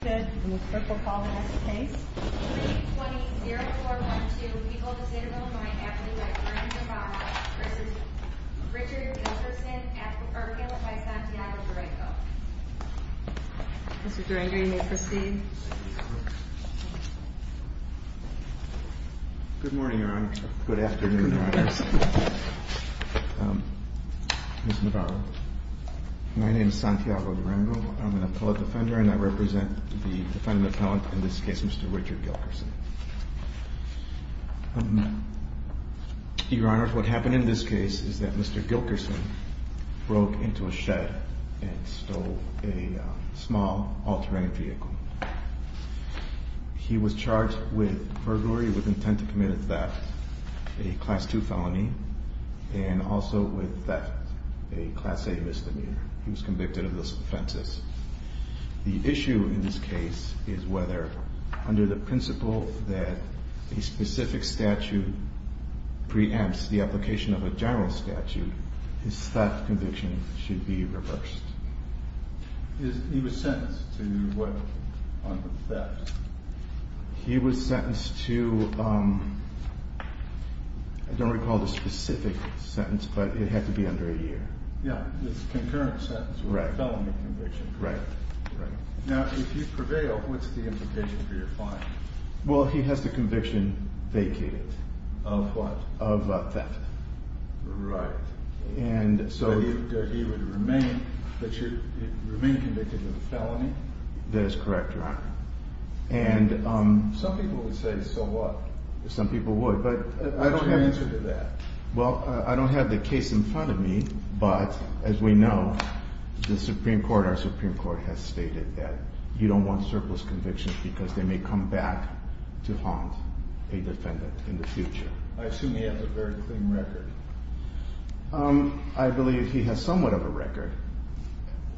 Good morning, Your Honor. Good afternoon, Your Honors. Ms. Navarro, my name is Santiago Navarro. I'm the defendant appellant in this case, Mr. Richard Gilkerson. Your Honors, what happened in this case is that Mr. Gilkerson broke into a shed and stole a small all-terrain vehicle. He was charged with burglary with intent to commit a theft, a Class II felony, and also with theft, a Class A misdemeanor. He was convicted of those offenses. The issue in this case is whether, under the principle that a specific statute preempts the application of a general statute, his theft conviction should be reversed. He was sentenced to what under theft? He was sentenced to, I don't recall the specific sentence, but it had to be reversed. If you prevail, what's the implication for your fine? Well, he has the conviction vacated. Of what? Of theft. Right. And so he would remain convicted of a felony? That is correct, Your Honor. Some people would say, so what? Some people would, but I don't have the answer to that. Well, I don't have the case in front of me, but as we know, the you don't want surplus convictions because they may come back to haunt a defendant in the future. I assume he has a very clean record. I believe he has somewhat of a record,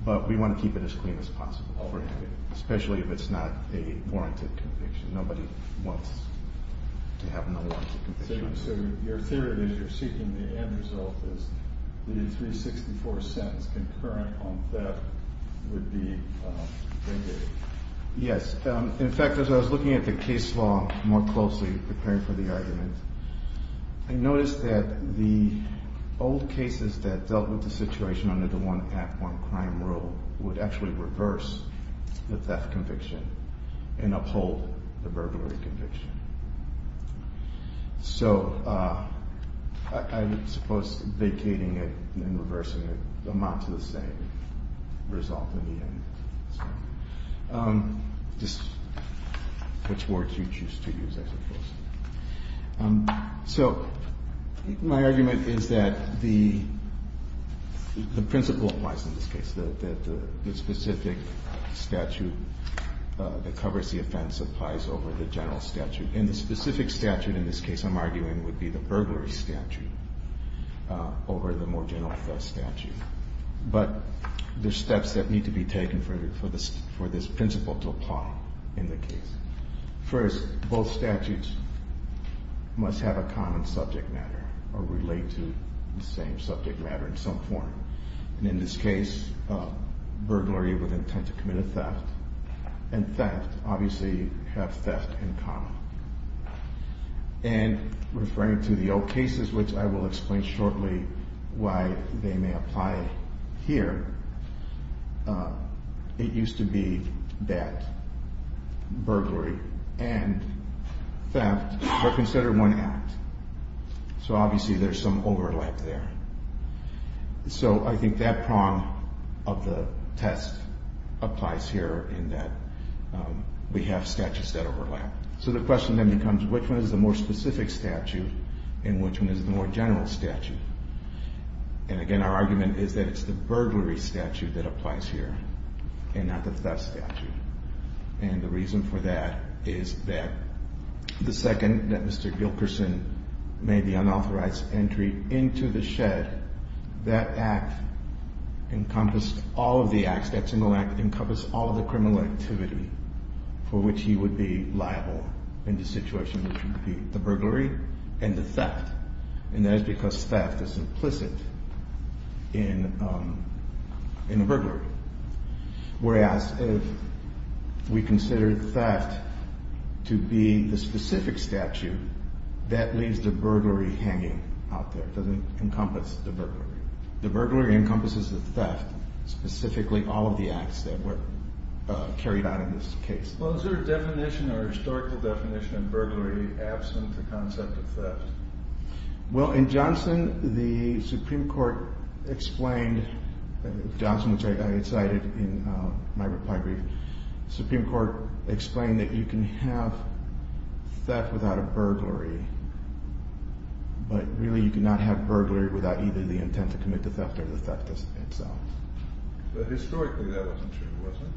but we want to keep it as clean as possible, especially if it's not a warranted conviction. Nobody wants to have no warranted conviction. So your theory that you're seeking the end result is that a 364 sentence concurrent on theft would be vindicated? Yes. In fact, as I was looking at the case law more closely, preparing for the argument, I noticed that the old cases that dealt with the situation under the one act, one crime rule would actually reverse the theft conviction and uphold the burglary conviction. So I suppose vacating it and reversing it amount to the same result in the end. Just which words you choose to use, I suppose. So my statute that covers the offense applies over the general statute. And the specific statute in this case, I'm arguing, would be the burglary statute over the more general statute. But there's steps that need to be taken for this principle to apply in the case. First, both statutes must have a common subject matter or in this case, burglary with intent to commit a theft. And theft, obviously, have theft in common. And referring to the old cases, which I will explain shortly why they may apply here, it used to be that burglary and theft were considered one act. So, obviously, there's some overlap there. So, I think that prong of the test applies here in that we have statutes that overlap. So, the question then becomes, which one is the more specific statute and which one is the more general statute? And again, our argument is that it's the burglary statute that applies here and not the theft statute. And the reason for that is that the second that Mr. Gilkerson made the unauthorized entry into the shed, that act encompassed all of the acts. That single act encompassed all of the criminal activity for which he would be liable in the case. So, if we consider theft to be the specific statute, that leaves the burglary hanging out there. It doesn't encompass the burglary. The burglary encompasses the theft, specifically all of the acts that were carried out in this case. Well, is there a definition or a historical definition of burglary absent the concept of theft? Well, in Johnson, the Supreme Court explained, Johnson, which I cited in my reply brief, the Supreme Court explained that you can have theft without a burglary, but really you cannot have burglary without either the intent to commit the theft or the theft itself. Historically, that wasn't true, was it?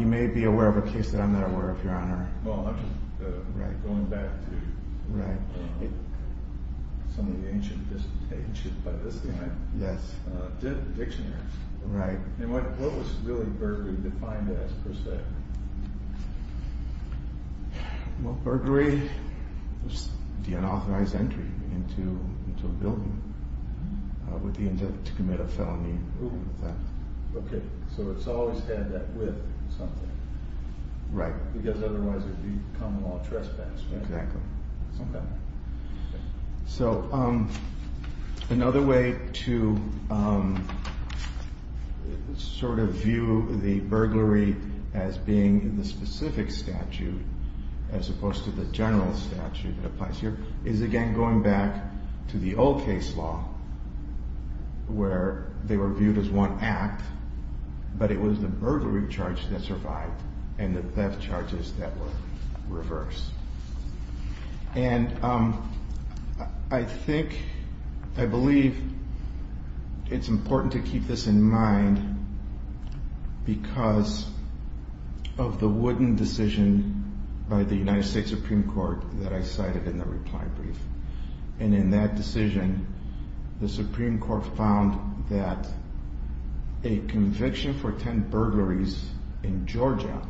You may be aware of a case that I'm not aware of, Your Honor. Well, I'm just going back to some of the ancient, just ancient by this time, dictionaries. And what was really burglary defined as, per se? Well, burglary was the unauthorized entry into a building with the intent to commit a felony of theft. Okay, so it's always had that with something. Right. Because otherwise it would be common law trespass. Exactly. Okay. So, another way to sort of view the burglary as being the specific statute, as opposed to the general statute that applies here, is again going back to the old case law where they were viewed as one act, but it was the burglary charge that survived and the theft charges that were reversed. And I think, I believe it's important to keep this in mind because of the wooden decision by the United States Supreme Court that I cited in the reply brief. And in that decision, the Supreme Court found that a conviction for 10 burglaries in Georgia,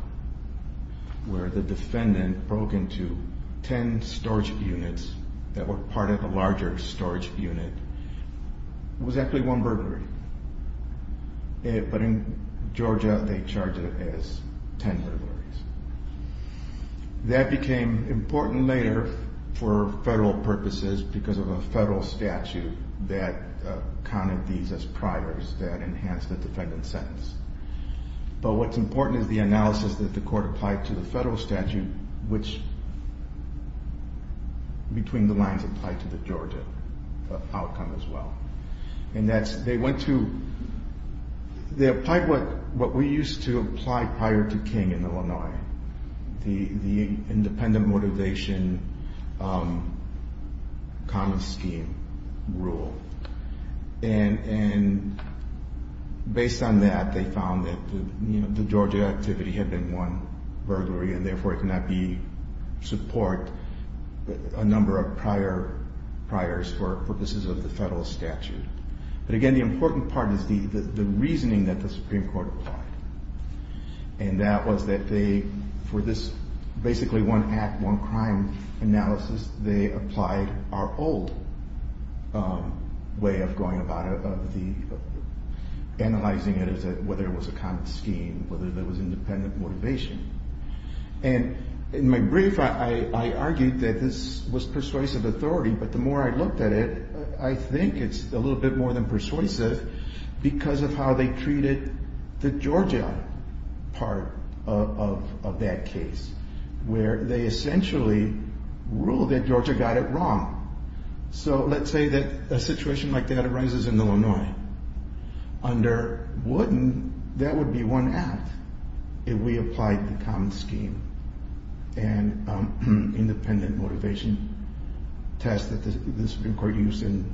where the defendant broke into 10 storage units that were part of a larger storage unit, was actually one burglary. But in Georgia, they charged it as 10 burglaries. That became important later for federal purposes because of a federal statute that counted these as priors that enhanced the defendant's sentence. But what's important is the analysis that the court applied to the federal statute, which between the lines applied to the Georgia outcome as well. And that's, they went to, they applied what we used to apply prior to King in Illinois, the independent motivation common scheme rule. And based on that, they found that the Georgia activity had been one burglary and therefore it could not support a number of priors for purposes of the federal statute. But again, the important part is the reasoning that the Supreme Court applied. And that was that they, for this basically one act, one crime analysis, they applied our old way of going about it, of analyzing it as whether it was a common scheme, whether there was independent motivation. And in my brief, I argued that this was persuasive authority, but the more I looked at it, I think it's a little bit more than persuasive because of how they treated the Georgia part of that case, where they essentially ruled that Georgia got it wrong. So let's say that a situation like that arises in Illinois. Under Wooden, that would be one act if we applied the common scheme and independent motivation test that the Supreme Court used in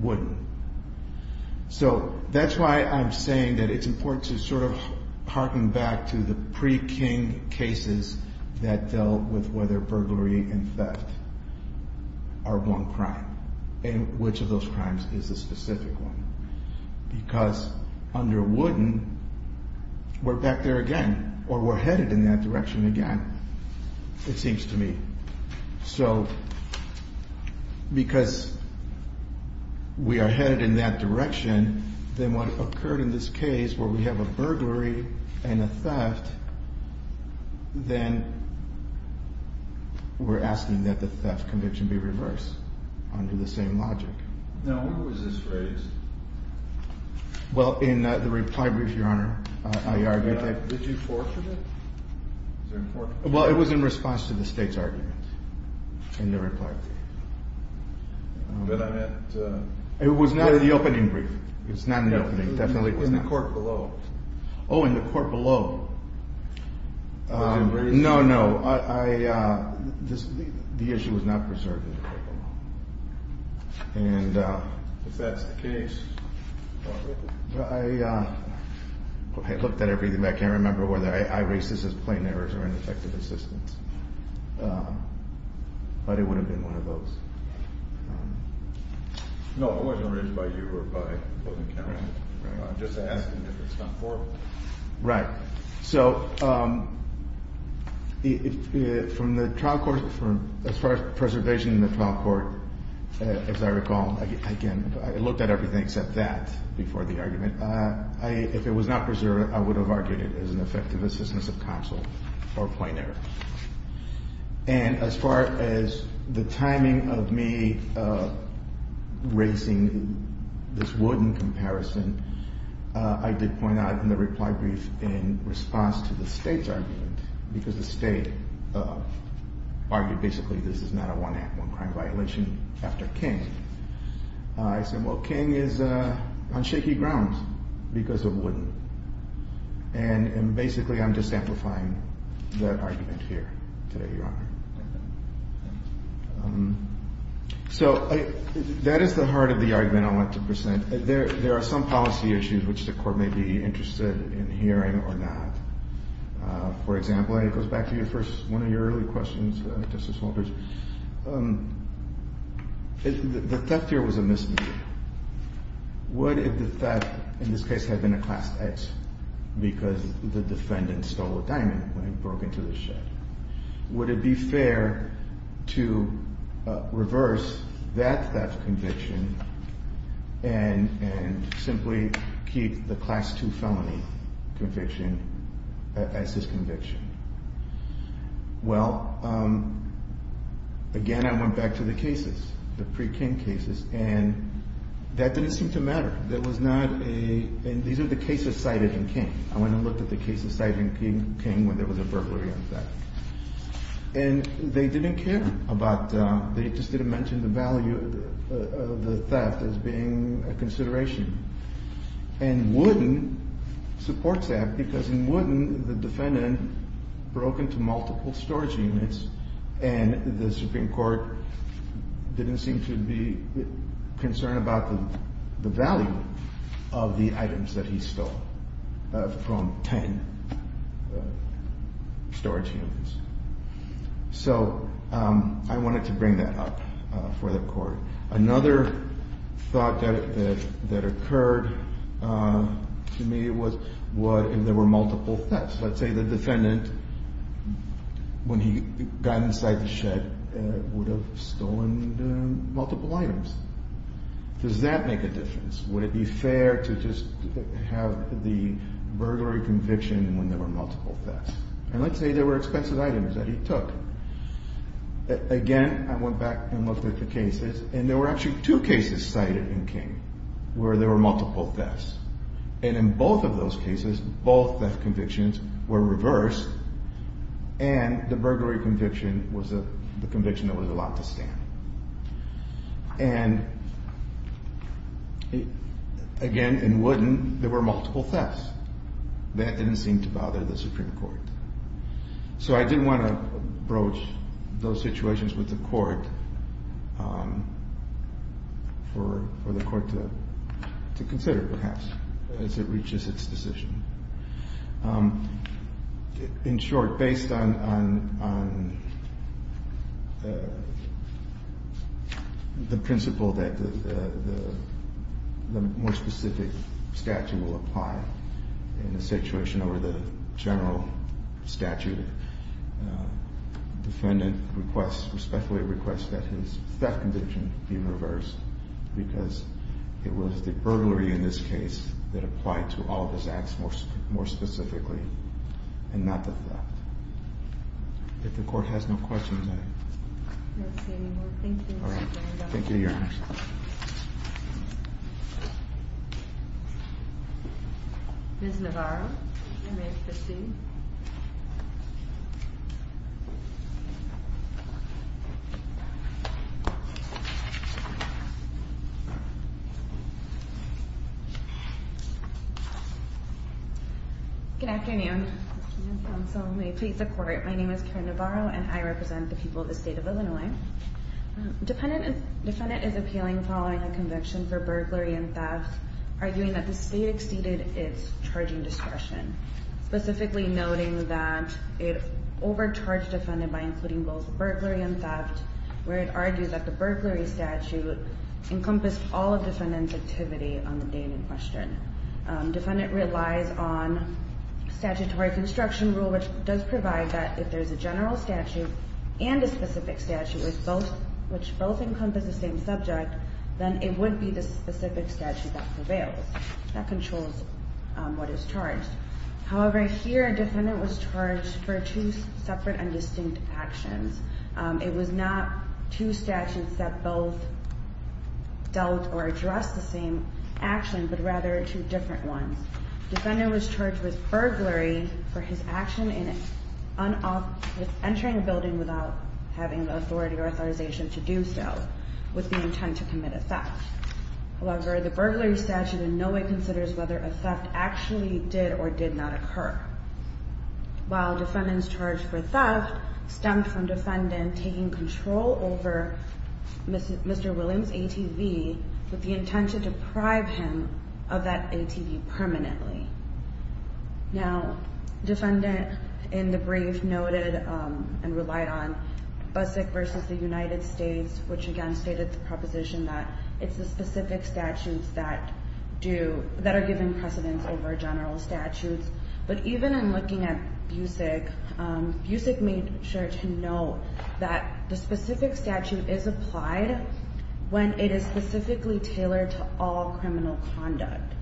Wooden. So that's why I'm saying that it's important to sort of harken back to the pre-King cases that dealt with whether burglary and theft are one crime and which of those crimes is the specific one. Because under Wooden, we're back there again, or we're headed in that direction again, it seems to me. So because we are headed in that direction, then what occurred in this case where we have a burglary and a theft, then we're asking that the theft conviction be reversed under the same logic. Now, when was this raised? Well, in the reply brief, Your Honor, I argued that... Did you forfeit it? Well, it was in response to the State's argument in the reply brief. But I meant... It was not in the opening brief. It was not in the opening. No, it was in the court below. Oh, in the court below. Was it raised? No, no. The issue was not preserved in the court below. And... If that's the case... I looked at everything, but I can't remember whether I raised this as plain errors or ineffective assistance. But it would have been one of those. No, it wasn't raised by you or by the closing counsel. I'm just asking if it's not forward. Right. So, from the trial court... As far as preservation in the trial court, as I recall, again, I looked at everything except that before the argument. If it was not preserved, I would have argued it as an effective assistance of counsel or plain error. And as far as the timing of me raising this wooden comparison, I did point out in the reply brief in response to the State's argument, because the State argued, basically, this is not a one crime violation after King. I said, well, King is on shaky grounds because of wooden. And basically, I'm just amplifying that argument here today, Your Honor. So, that is the heart of the argument I want to present. There are some policy issues which the court may be interested in hearing or not. For example, and it goes back to one of your early questions, Justice Walters, the theft here was a misdeed. What if the theft in this case had been a Class X because the defendant stole a diamond when it broke into the shed? Would it be fair to reverse that theft conviction and simply keep the Class II felony conviction as his conviction? Well, again, I went back to the cases, the pre-King cases, and that didn't seem to matter. There was not a – and these are the cases cited in King. I went and looked at the cases cited in King when there was a burglary on theft. And they didn't care about – they just didn't mention the value of the theft as being a consideration. And wooden supports that because in wooden, the defendant broke into multiple storage units and the Supreme Court didn't seem to be concerned about the value of the items that he stole from 10 storage units. So I wanted to bring that up for the court. Another thought that occurred to me was what if there were multiple thefts? Let's say the defendant, when he got inside the shed, would have stolen multiple items. Does that make a difference? Would it be fair to just have the burglary conviction when there were multiple thefts? And let's say there were expensive items that he took. Again, I went back and looked at the cases, and there were actually two cases cited in King where there were multiple thefts. And in both of those cases, both theft convictions were reversed, and the burglary conviction was the conviction that was allowed to stand. And again, in wooden, there were multiple thefts. That didn't seem to bother the Supreme Court. So I did want to broach those situations with the court for the court to consider, perhaps, as it reaches its decision. In short, based on the principle that the more specific statute will apply in a situation over the general statute, the defendant respectfully requests that his theft conviction be reversed because it was the burglary in this case that applied to all of his acts more specifically, and not the theft. If the court has no questions, I... I don't see any more. Thank you, Your Honor. All right. Thank you, Your Honor. Ms. Navarro, you may proceed. Good afternoon. My name is Karen Navarro, and I represent the people of the state of Illinois. Defendant is appealing following a conviction for burglary and theft, arguing that the state exceeded its charging discretion, specifically noting that it overcharged defendant by including both burglary and theft, where it argues that the burglary statute encompassed all of defendant's activity on the day in question. Defendant relies on statutory construction rule, which does provide that if there's a general statute and a specific statute, which both encompass the same subject, then it would be the specific statute that prevails, that controls what is charged. However, here a defendant was charged for two separate and distinct actions. It was not two statutes that both dealt or addressed the same action, but rather two different ones. Defendant was charged with burglary for his action in entering a building without having the authority or authorization to do so, with the intent to commit a theft. However, the burglary statute in no way considers whether a theft actually did or did not occur. While defendant's charge for theft stemmed from defendant taking control over Mr. Williams' ATV, with the intent to deprive him of that ATV permanently. Now, defendant in the brief noted and relied on Busick v. The United States, which again stated the proposition that it's the specific statutes that are given precedence over general statutes, but even in looking at Busick, Busick made sure to note that the specific statute is applied when it is specifically tailored to all criminal conduct.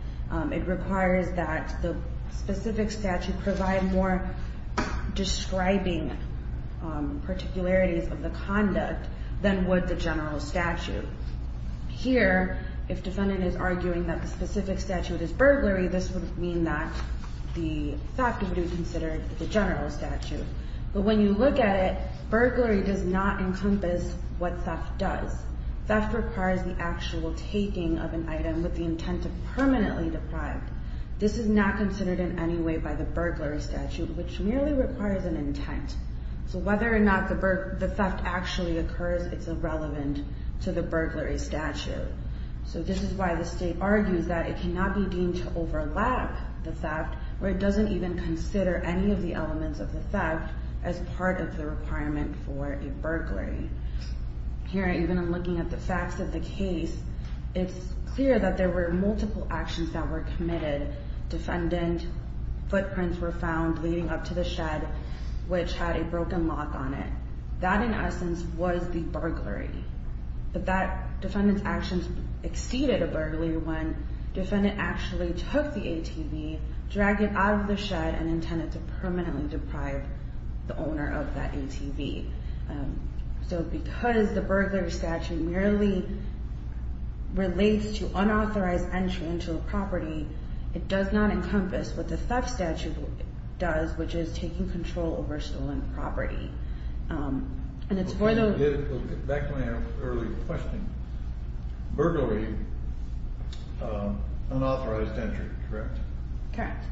It requires that the specific statute provide more describing particularities of the conduct than would the general statute. Here, if defendant is arguing that the specific statute is burglary, this would mean that the theft would be considered the general statute. But when you look at it, burglary does not encompass what theft does. Theft requires the actual taking of an item with the intent to permanently deprive. This is not considered in any way by the burglary statute, which merely requires an intent. So whether or not the theft actually occurs, it's irrelevant to the burglary statute. So this is why the state argues that it cannot be deemed to overlap the theft, where it doesn't even consider any of the elements of the theft as part of the requirement for a burglary. Here, even in looking at the facts of the case, it's clear that there were multiple actions that were committed. Defendant's footprints were found leading up to the shed, which had a broken lock on it. That, in essence, was the burglary. But that defendant's actions exceeded a burglary when defendant actually took the ATV, dragged it out of the shed, and intended to permanently deprive the owner of that ATV. So because the burglary statute merely relates to unauthorized entry into a property, it does not encompass what the theft statute does, which is taking control over stolen property. Back to my earlier question. Burglary, unauthorized entry, correct? Correct.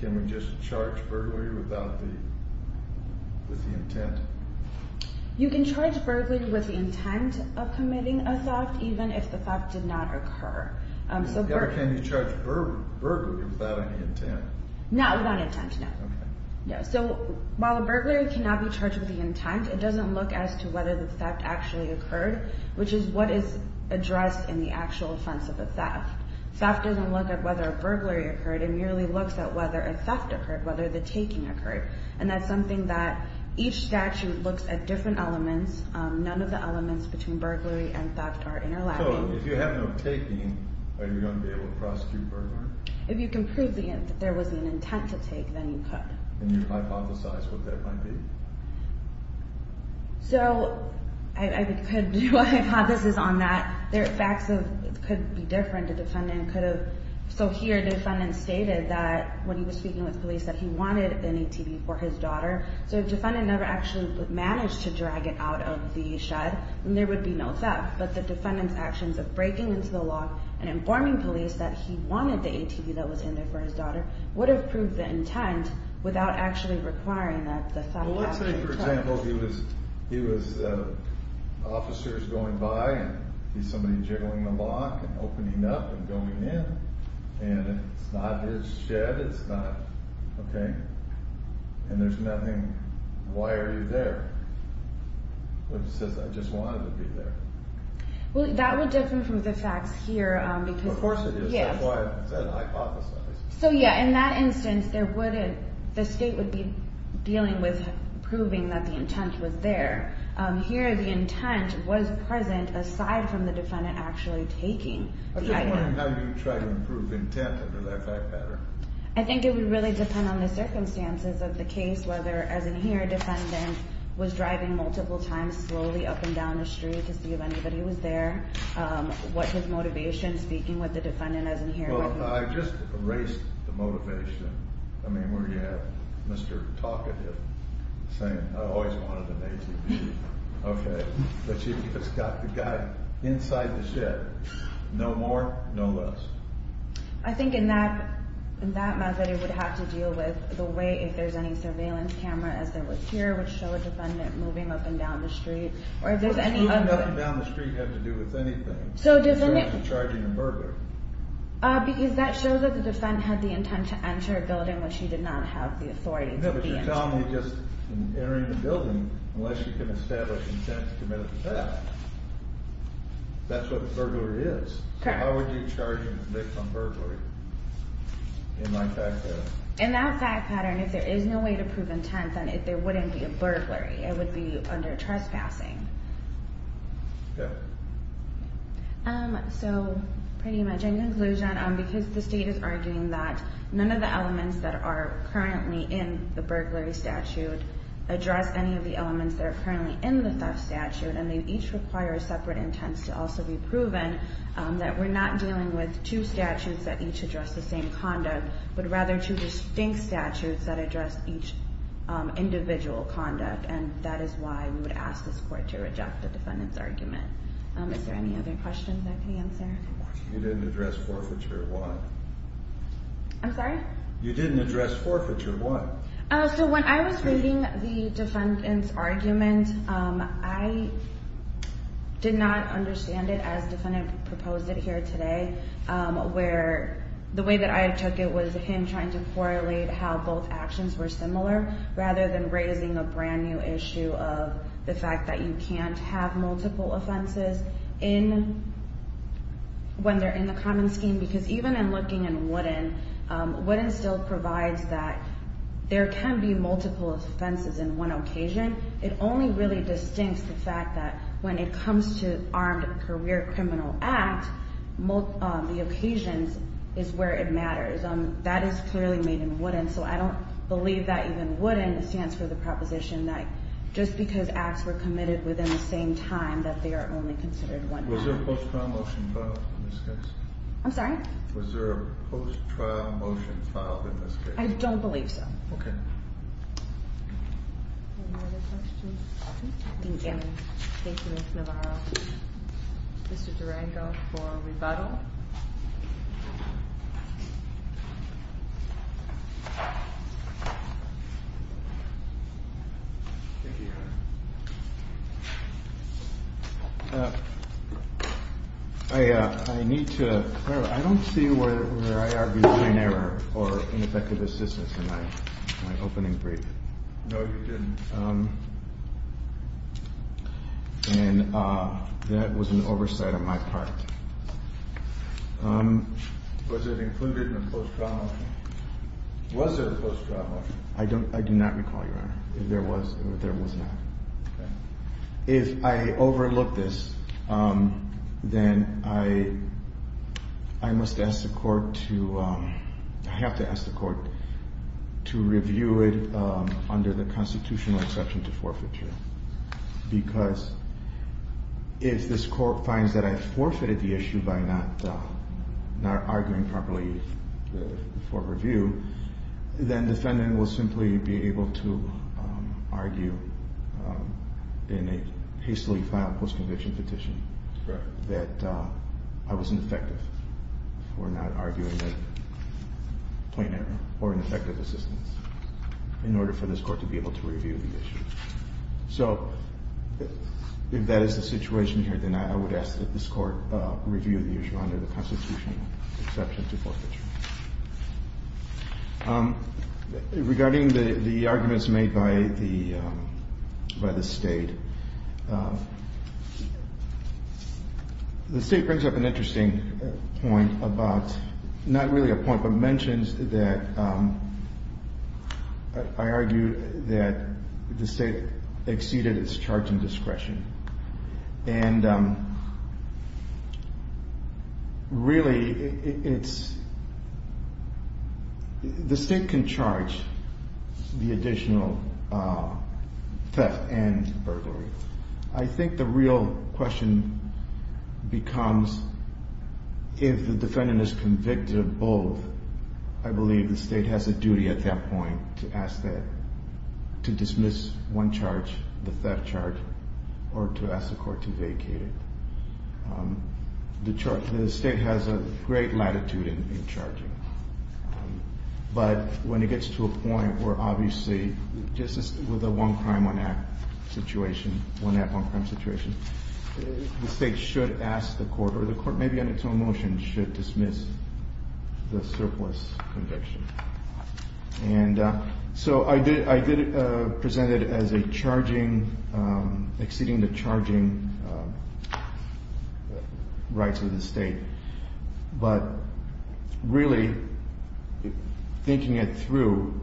Can we just charge burglary without the intent? You can charge burglary with the intent of committing a theft, even if the theft did not occur. Can you charge burglary without any intent? Not with any intent, no. So while a burglary cannot be charged with the intent, it doesn't look as to whether the theft actually occurred, which is what is addressed in the actual offense of the theft. Theft doesn't look at whether a burglary occurred. It merely looks at whether a theft occurred, whether the taking occurred. And that's something that each statute looks at different elements. None of the elements between burglary and theft are interlacking. So if you have no taking, are you going to be able to prosecute burglary? If you can prove that there was an intent to take, then you could. Can you hypothesize what that might be? So I could do a hypothesis on that. There are facts that could be different. The defendant could have—so here the defendant stated that when he was speaking with police that he wanted an ATV for his daughter. So if the defendant never actually managed to drag it out of the shed, then there would be no theft. But the defendant's actions of breaking into the law and informing police that he wanted the ATV that was in there for his daughter would have proved the intent without actually requiring that the theft happen. Well, let's say, for example, he was officers going by and he's somebody jiggling the lock and opening up and going in, and it's not his shed, it's not—okay? And there's nothing—why are you there? But he says, I just wanted to be there. Well, that would differ from the facts here because— Of course it is. That's why I said hypothesize. So, yeah, in that instance, there wouldn't—the state would be dealing with proving that the intent was there. Here the intent was present aside from the defendant actually taking the item. I'm just wondering how you try to improve intent under that fact pattern. I think it would really depend on the circumstances of the case, whether, as in here, a defendant was driving multiple times slowly up and down the street to see if anybody was there, what his motivation, speaking with the defendant as in here. Well, I just erased the motivation. I mean, where you have Mr. Talkative saying, I always wanted an ATV. Okay, but you've just got the guy inside the shed. No more, no less. I think in that method it would have to deal with the way if there's any surveillance camera as there was here, which show a defendant moving up and down the street, or if there's any other— No, because that shows that the defendant had the intent to enter a building, which he did not have the authority to be in. No, but you're telling me just entering the building, unless you can establish intent to commit a theft, that's what burglary is. Correct. So how would you charge him with a conviction on burglary in that fact pattern? In that fact pattern, if there is no way to prove intent, then there wouldn't be a burglary. It would be under trespassing. Okay. So pretty much in conclusion, because the state is arguing that none of the elements that are currently in the burglary statute address any of the elements that are currently in the theft statute, and they each require a separate intent to also be proven, that we're not dealing with two statutes that each address the same conduct, but rather two distinct statutes that address each individual conduct. And that is why we would ask this Court to reject the defendant's argument. Is there any other questions I can answer? You didn't address forfeiture. Why? I'm sorry? You didn't address forfeiture. Why? So when I was reading the defendant's argument, I did not understand it as the defendant proposed it here today, where the way that I took it was him trying to correlate how both actions were similar rather than raising a brand new issue of the fact that you can't have multiple offenses when they're in the common scheme. Because even in looking in Wooden, Wooden still provides that there can be multiple offenses in one occasion. It only really distincts the fact that when it comes to armed career criminal act, the occasions is where it matters. That is clearly made in Wooden, so I don't believe that even Wooden stands for the proposition that just because acts were committed within the same time that they are only considered one time. Was there a post-trial motion filed in this case? I'm sorry? Was there a post-trial motion filed in this case? I don't believe so. Okay. Any other questions? Thank you. Thank you, Ms. Navarro. Mr. Durango for rebuttal. Thank you, Your Honor. I need to – I don't see where I argued an error or ineffective assistance in my opening brief. No, you didn't. And that was an oversight on my part. Was it included in the post-trial motion? Was there a post-trial motion? I do not recall, Your Honor. There was not. Okay. If I overlook this, then I must ask the court to – I have to ask the court to review it under the constitutional exception to forfeiture. Because if this court finds that I forfeited the issue by not arguing properly for review, then the defendant will simply be able to argue in a hastily-filed post-conviction petition that I was ineffective for not arguing that point of error in order for this court to be able to review the issue. So if that is the situation here, then I would ask that this court review the issue under the constitutional exception to forfeiture. Regarding the arguments made by the State, the State brings up an interesting point about – not really a point, but mentions that – I argue that the State exceeded its charge and discretion. And really, it's – the State can charge the additional theft and burglary. I think the real question becomes if the defendant is convicted of both. I believe the State has a duty at that point to ask that – to dismiss one charge, the theft charge, or to ask the court to vacate it. The State has a great latitude in charging. But when it gets to a point where, obviously, just as with the one crime, one act situation, one act, one crime situation, the State should ask the court – or the court, maybe under its own motion, should dismiss the surplus conviction. And so I did present it as a charging – exceeding the charging rights of the State. But really, thinking it through,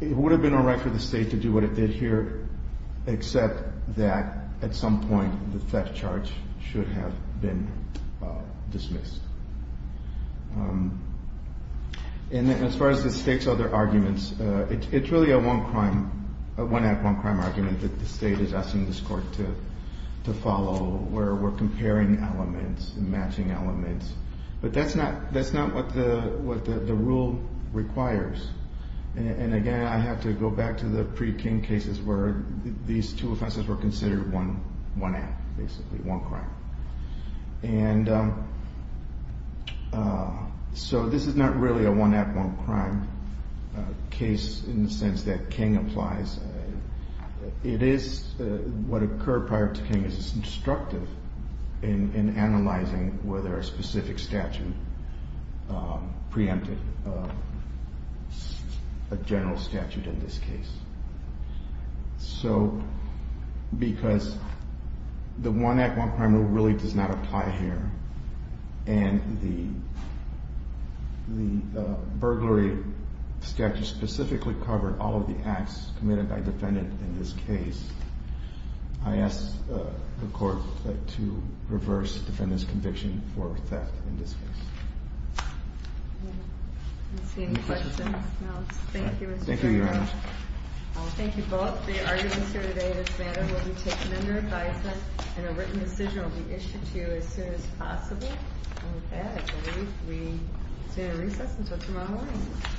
it would have been all right for the State to do what it did here, except that at some point the theft charge should have been dismissed. And as far as the State's other arguments, it's really a one crime – one act, one crime argument that the State is asking this court to follow, where we're comparing elements and matching elements. But that's not what the rule requires. And again, I have to go back to the pre-King cases where these two offenses were considered one act, basically, one crime. And so this is not really a one act, one crime case in the sense that King applies. It is – what occurred prior to King is instructive in analyzing whether a specific statute preempted a general statute in this case. So because the one act, one crime rule really does not apply here, and the burglary statute specifically covered all of the acts committed by a defendant in this case, I ask the court to reverse the defendant's conviction for theft in this case. I don't see any questions. Thank you, Mr. Chairman. Thank you, Your Honor. Thank you both for your arguments here today. This matter will be taken under advisement, and a written decision will be issued to you as soon as possible. And with that, I believe we will resume recess until tomorrow morning.